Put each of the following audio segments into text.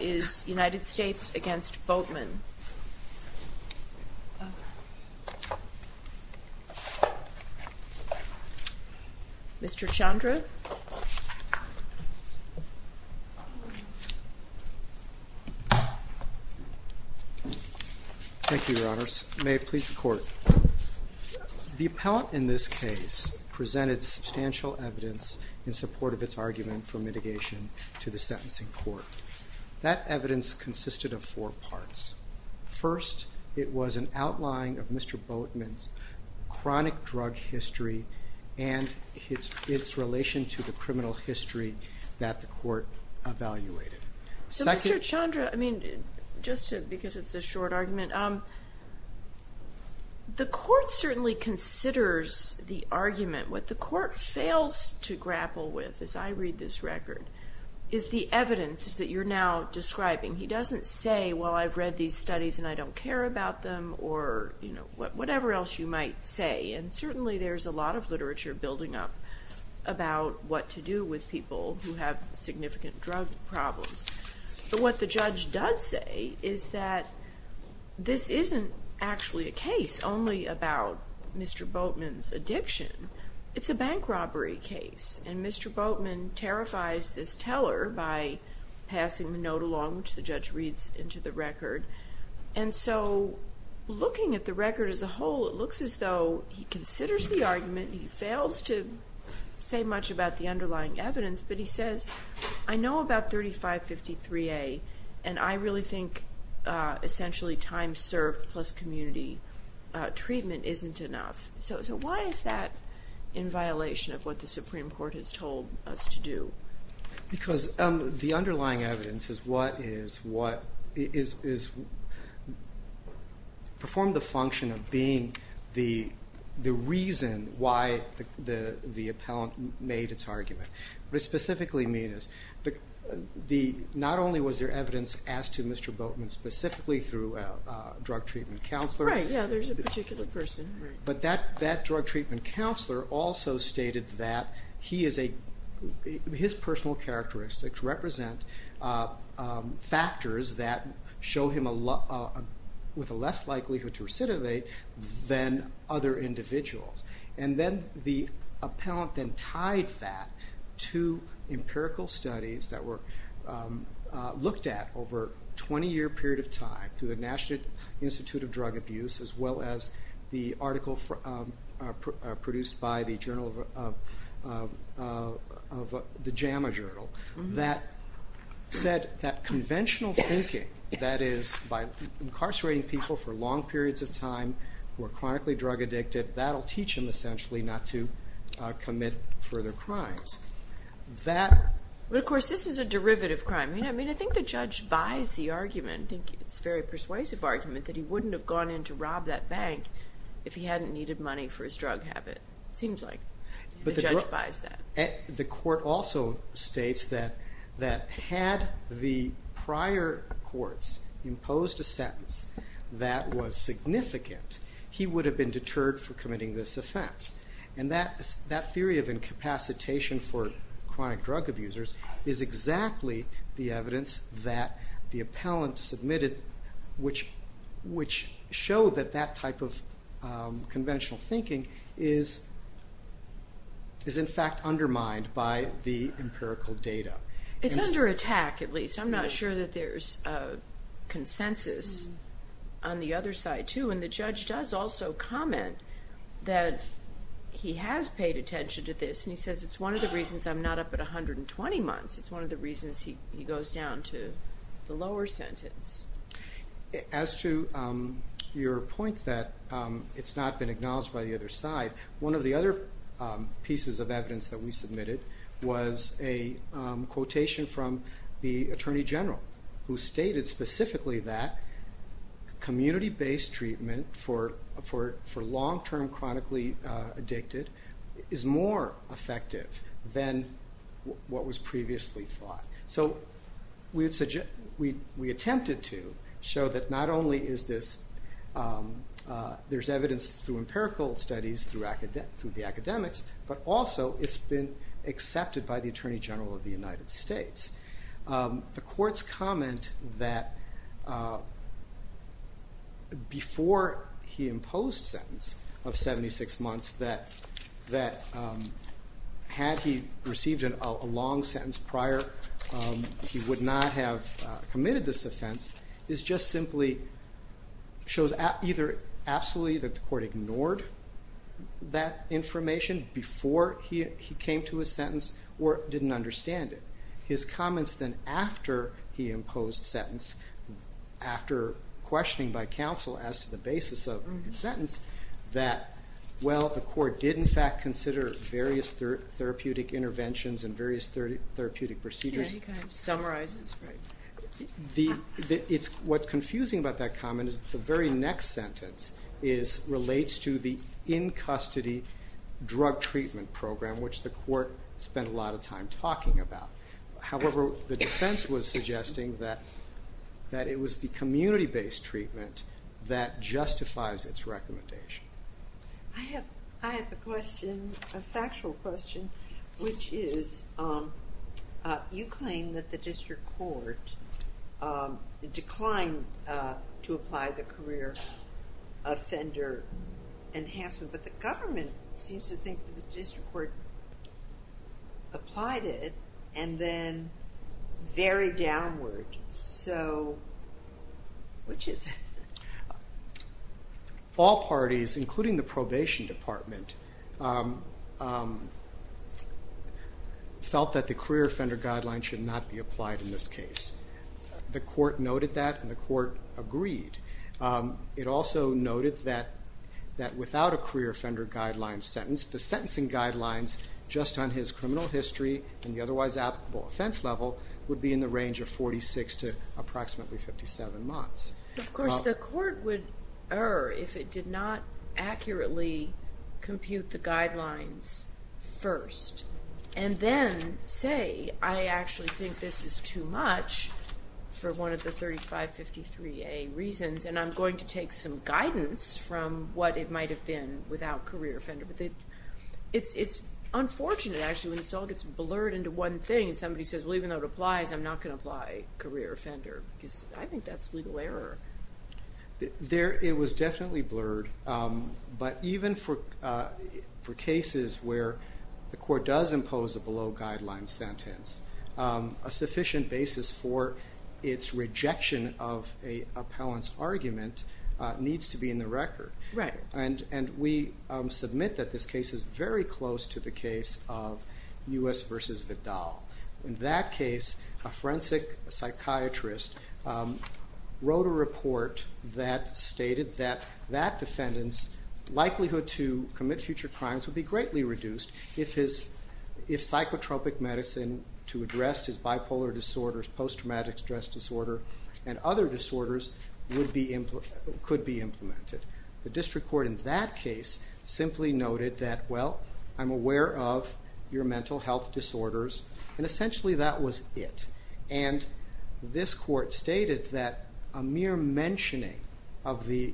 is United States v. Boatman. Mr. Chandra. Thank you, Your Honors. May it please the Court, The appellant in this case presented substantial evidence in support of its argument for mitigation to the sentencing court. That evidence consisted of four parts. First, it was an outline of Mr. Boatman's chronic drug history and its relation to the criminal history that the court evaluated. So Mr. Chandra, I mean, just because it's a short argument, the court certainly considers the argument. What the court fails to grapple with, as I read this record, is the evidence that you're now describing. He doesn't say, well, I've read these studies and I don't care about them, or whatever else you might say. And certainly there's a lot of literature building up about what to do with people who have significant drug problems. But what the judge does say is that this isn't actually a case only about Mr. Boatman's addiction. It's a bank robbery case, and Mr. Boatman terrifies this teller by passing the note along, which the judge reads into the record. And so, looking at the record as a whole, it looks as though he considers the argument, he fails to say much about the underlying evidence, but he says, I know about 3553A, and I really think essentially time served plus community treatment isn't enough. So why is that in violation of what the Supreme Court has told us to do? Because the underlying evidence has performed the function of being the reason why the appellant made its argument. What it specifically means is, not only was there evidence asked to Mr. Boatman specifically through a drug treatment counselor. Right, yeah, there's a particular person. That drug treatment counselor also stated that his personal characteristics represent factors that show him with a less likelihood to recidivate than other individuals. And then the appellant then tied that to empirical studies that were looked at over a 20-year period of time through the National Institute of Drug Abuse, as well as the article produced by the JAMA Journal that said that conventional thinking, that is, by incarcerating people for long periods of time who are chronically drug addicted, that will teach them essentially not to commit further crimes. Of course, this is a derivative crime. I mean, I think the judge buys the argument. I think it's a very persuasive argument that he wouldn't have gone in to rob that bank if he hadn't needed money for his drug habit. It seems like the judge buys that. The court also states that had the prior courts imposed a sentence that was significant, he would have been deterred from committing this offense. And that theory of incapacitation for chronic drug abusers is exactly the evidence that the appellant submitted, which showed that that type of conventional thinking is in fact undermined by the empirical data. It's under attack, at least. I'm not sure that there's consensus on the other side, too. And the judge does also comment that he has paid attention to this, and he says it's one of the reasons I'm not up at 120 months. It's one of the reasons he goes down to the lower sentence. As to your point that it's not been acknowledged by the other side, one of the other pieces of evidence that we submitted was a quotation from the attorney general who stated specifically that community-based treatment for long-term chronically addicted is more effective than what was previously thought. So we attempted to show that not only is there evidence through empirical studies, through the academics, but also it's been accepted by the attorney general of the United States. The court's comment that before he imposed a sentence of 76 months, that had he received a long sentence prior, he would not have committed this offense, just simply shows either absolutely that the court ignored that information before he came to his sentence or didn't understand it. His comments then after he imposed a sentence, after questioning by counsel as to the basis of the sentence, that, well, the court did, in fact, consider various therapeutic interventions and various therapeutic procedures. He kind of summarizes. What's confusing about that comment is the very next sentence relates to the in-custody drug treatment program, which the court spent a lot of time talking about. However, the defense was suggesting that it was the community-based treatment that justifies its recommendation. I have a question, a factual question, which is you claim that the district court declined to apply the career offender enhancement, but the government seems to think that the district court applied it and then very downward. So which is it? All parties, including the probation department, felt that the career offender guideline should not be applied in this case. The court noted that and the court agreed. It also noted that without a career offender guideline sentence, the sentencing guidelines just on his criminal history and the otherwise applicable offense level would be in the range of 46 to approximately 57 months. Of course, the court would err if it did not accurately compute the guidelines first and then say, I actually think this is too much for one of the 3553A reasons and I'm going to take some guidance from what it might have been without career offender. But it's unfortunate, actually. It all gets blurred into one thing and somebody says, well, even though it applies, I'm not going to apply career offender because I think that's legal error. It was definitely blurred. But even for cases where the court does impose a below guideline sentence, a sufficient basis for its rejection of an appellant's argument needs to be in the record. And we submit that this case is very close to the case of U.S. v. Vidal. In that case, a forensic psychiatrist wrote a report that stated that that defendant's likelihood to commit future crimes would be greatly reduced if psychotropic medicine to address his bipolar disorders, post-traumatic stress disorder, and other disorders could be implemented. The district court in that case simply noted that, well, I'm aware of your mental health disorders, and essentially that was it. And this court stated that a mere mentioning of the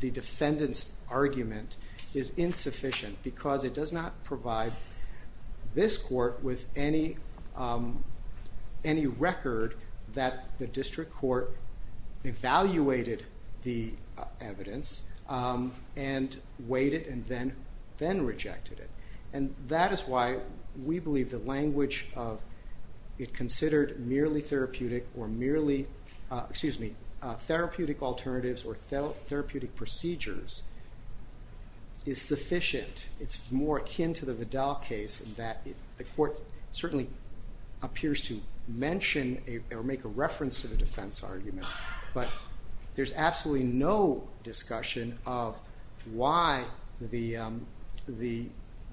defendant's argument is insufficient because it does not provide this court with any record that the district court evaluated the evidence and weighed it and then rejected it. And that is why we believe the language of it considered merely therapeutic or merely therapeutic alternatives or therapeutic procedures is sufficient. It's more akin to the Vidal case in that the court certainly appears to mention or make a reference to the defense argument, but there's absolutely no discussion of why the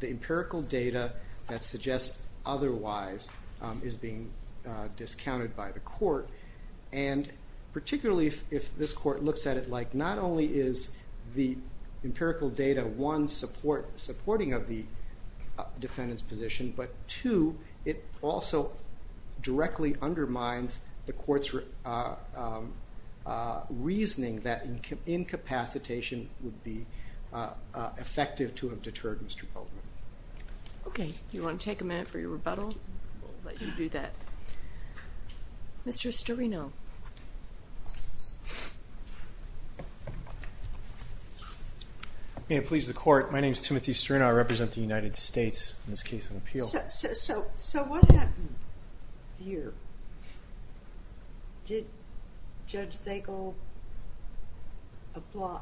empirical data that suggests otherwise is being discounted by the court. And particularly if this court looks at it like not only is the empirical data, one, supporting of the defendant's position, but two, it also directly undermines the court's reasoning that incapacitation would be effective to have deterred Mr. Polkman. Okay. Do you want to take a minute for your rebuttal? We'll let you do that. Mr. Storino. May it please the court, my name is Timothy Storino. I represent the United States in this case of appeal. So what happened here? Did Judge Zagel apply?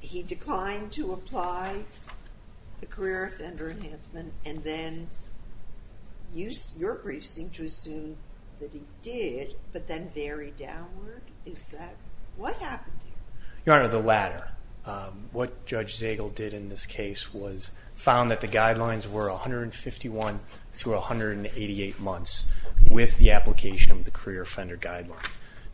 He declined to apply the career offender enhancement and then your brief seemed to assume that he did, but then very downward. Your Honor, the latter. What Judge Zagel did in this case was found that the guidelines were 151 through 188 months with the application of the career offender guideline.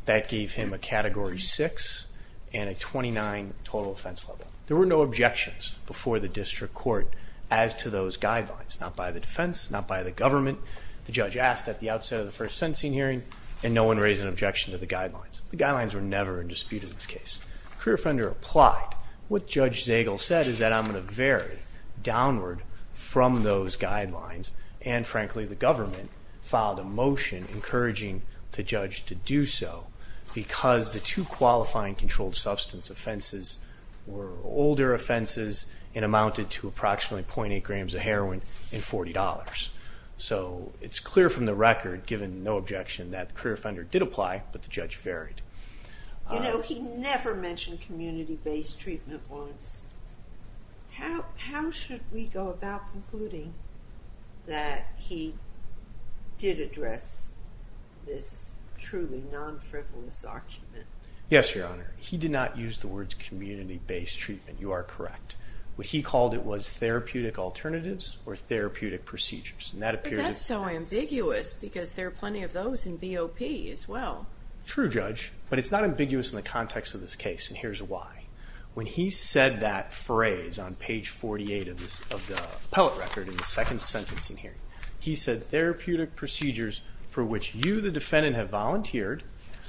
That gave him a Category 6 and a 29 total offense level. There were no objections before the district court as to those guidelines, not by the defense, not by the government. The judge asked at the outset of the first sentencing hearing and no one raised an objection to the guidelines. The guidelines were never in dispute in this case. The career offender applied. What Judge Zagel said is that I'm going to vary downward from those guidelines and, frankly, the government filed a motion encouraging the judge to do so because the two qualifying controlled substance offenses were older offenses and amounted to approximately .8 grams of heroin and $40. So it's clear from the record, given no objection, that the career offender did apply, but the judge varied. You know, he never mentioned community-based treatment once. How should we go about concluding that he did address this truly non-frivolous argument? Yes, Your Honor. He did not use the words community-based treatment. You are correct. What he called it was therapeutic alternatives or therapeutic procedures. But that's so ambiguous because there are plenty of those in BOP as well. True, Judge, but it's not ambiguous in the context of this case, and here's why. When he said that phrase on page 48 of the appellate record in the second sentencing hearing, he said therapeutic procedures for which you, the defendant, have volunteered,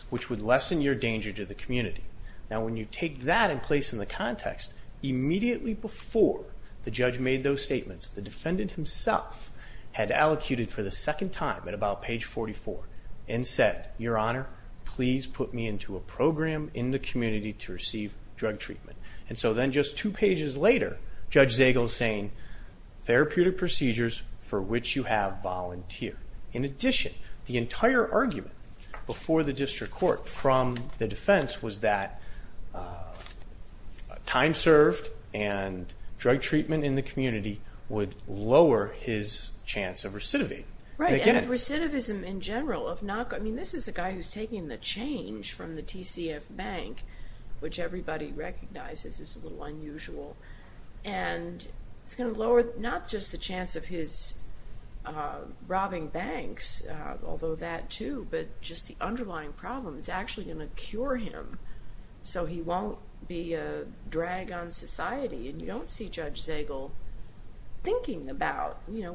which would lessen your danger to the community. Now, when you take that in place in the context, immediately before the judge made those statements, the defendant himself had allocated for the second time at about page 44 and said, Your Honor, please put me into a program in the community to receive drug treatment. And so then just two pages later, Judge Zagel is saying therapeutic procedures for which you have volunteered. In addition, the entire argument before the district court from the defense was that time served and drug treatment in the community would lower his chance of recidivism. Right, and recidivism in general. I mean, this is a guy who's taking the change from the TCF Bank, which everybody recognizes is a little unusual, and it's going to lower not just the chance of his robbing banks, although that too, but just the underlying problem is actually going to cure him so he won't be a drag on society. And you don't see Judge Zagel thinking about, you know,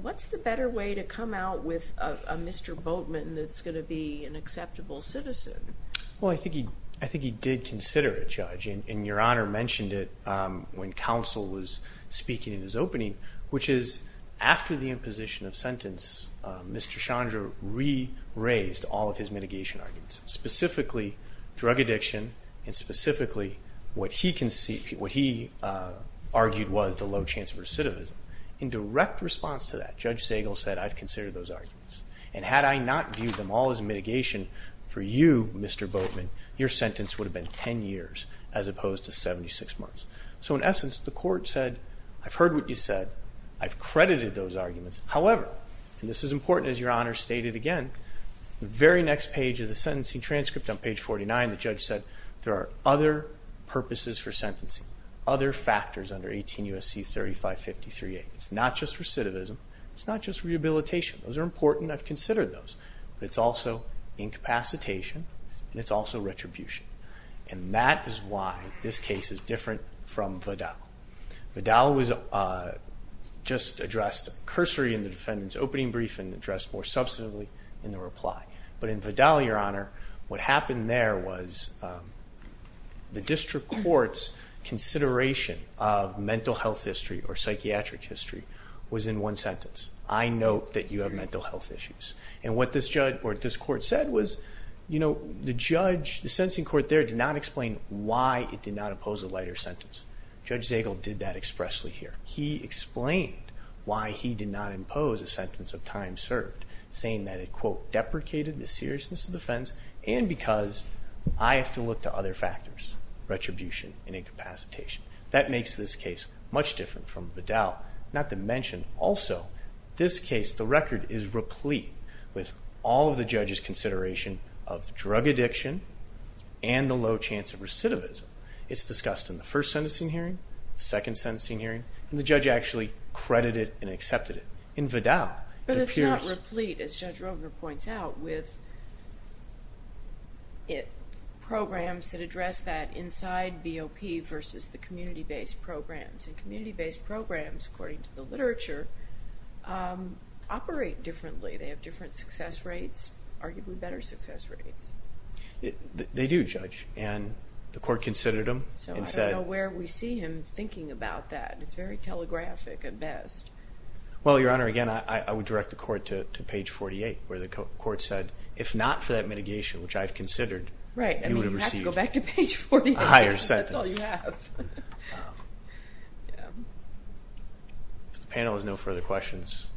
what's the better way to come out with a Mr. Boatman that's going to be an acceptable citizen? Well, I think he did consider it, Judge, and Your Honor mentioned it when counsel was speaking in his opening, which is after the imposition of sentence, Mr. Chandra re-raised all of his mitigation arguments, specifically drug addiction and specifically what he argued was the low chance of recidivism. In direct response to that, Judge Zagel said, I've considered those arguments, and had I not viewed them all as mitigation for you, Mr. Boatman, your sentence would have been 10 years as opposed to 76 months. So in essence, the court said, I've heard what you said. I've credited those arguments. However, and this is important, as Your Honor stated again, the very next page of the sentencing transcript on page 49, the judge said, there are other purposes for sentencing, other factors under 18 U.S.C. 3553-8. It's not just recidivism. It's not just rehabilitation. Those are important. I've considered those. It's also incapacitation, and it's also retribution. And that is why this case is different from Vidal. Vidal was just addressed cursory in the defendant's opening brief and addressed more substantively in the reply. But in Vidal, Your Honor, what happened there was the district court's consideration of mental health history or psychiatric history was in one sentence. I note that you have mental health issues. And what this court said was, you know, the judge, the sentencing court there, did not explain why it did not impose a lighter sentence. Judge Zagel did that expressly here. He explained why he did not impose a sentence of time served, saying that it, quote, deprecated the seriousness of the offense, and because I have to look to other factors, retribution and incapacitation. That makes this case much different from Vidal. Not to mention, also, this case, the record is replete with all of the judge's consideration of drug addiction and the low chance of recidivism. It's discussed in the first sentencing hearing, second sentencing hearing, and the judge actually credited and accepted it. In Vidal. But it's not replete, as Judge Rogner points out, with programs that address that inside BOP versus the community-based programs. And community-based programs, according to the literature, operate differently. They have different success rates, arguably better success rates. They do, Judge. And the court considered them. So I don't know where we see him thinking about that. It's very telegraphic at best. Well, Your Honor, again, I would direct the court to page 48, where the court said, if not for that mitigation, which I've considered, you would have received a higher sentence. Right. I mean, you have to go back to page 48. That's all you have. If the panel has no further questions,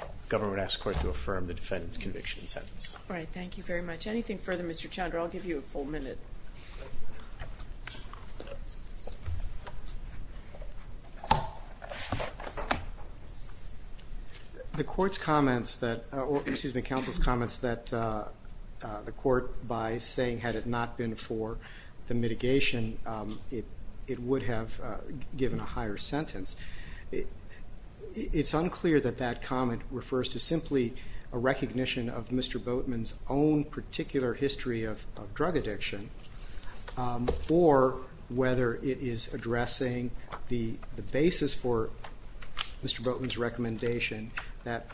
the government asks the court to affirm the defendant's conviction and sentence. All right. Thank you very much. If there's anything further, Mr. Chandra, I'll give you a full minute. The court's comments that the court, by saying, had it not been for the mitigation, it would have given a higher sentence. It's unclear that that comment refers to simply a recognition of Mr. Boatman's particular history of drug addiction, or whether it is addressing the basis for Mr. Boatman's recommendation that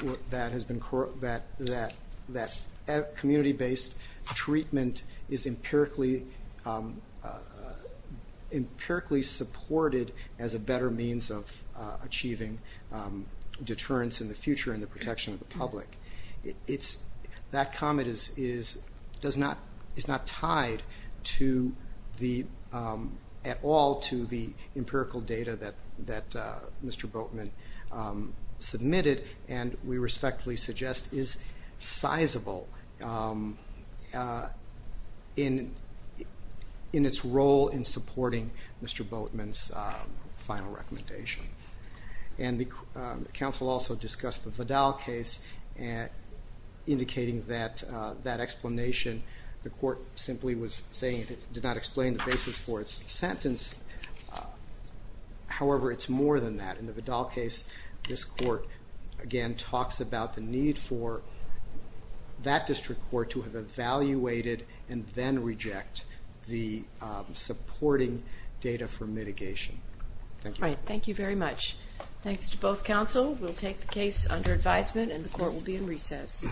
community-based treatment is empirically supported as a better means of achieving deterrence in the future and the protection of the public. That comment is not tied at all to the empirical data that Mr. Boatman submitted and we respectfully suggest is sizable in its role in supporting Mr. Boatman's final recommendation. And the counsel also discussed the Vidal case, indicating that that explanation the court simply was saying did not explain the basis for its sentence. However, it's more than that. In the Vidal case, this court, again, talks about the need for that district court to have evaluated and then reject the supporting data for mitigation. All right. Thank you very much. Thanks to both counsel. We'll take the case under advisement and the court will be in recess. Thank you.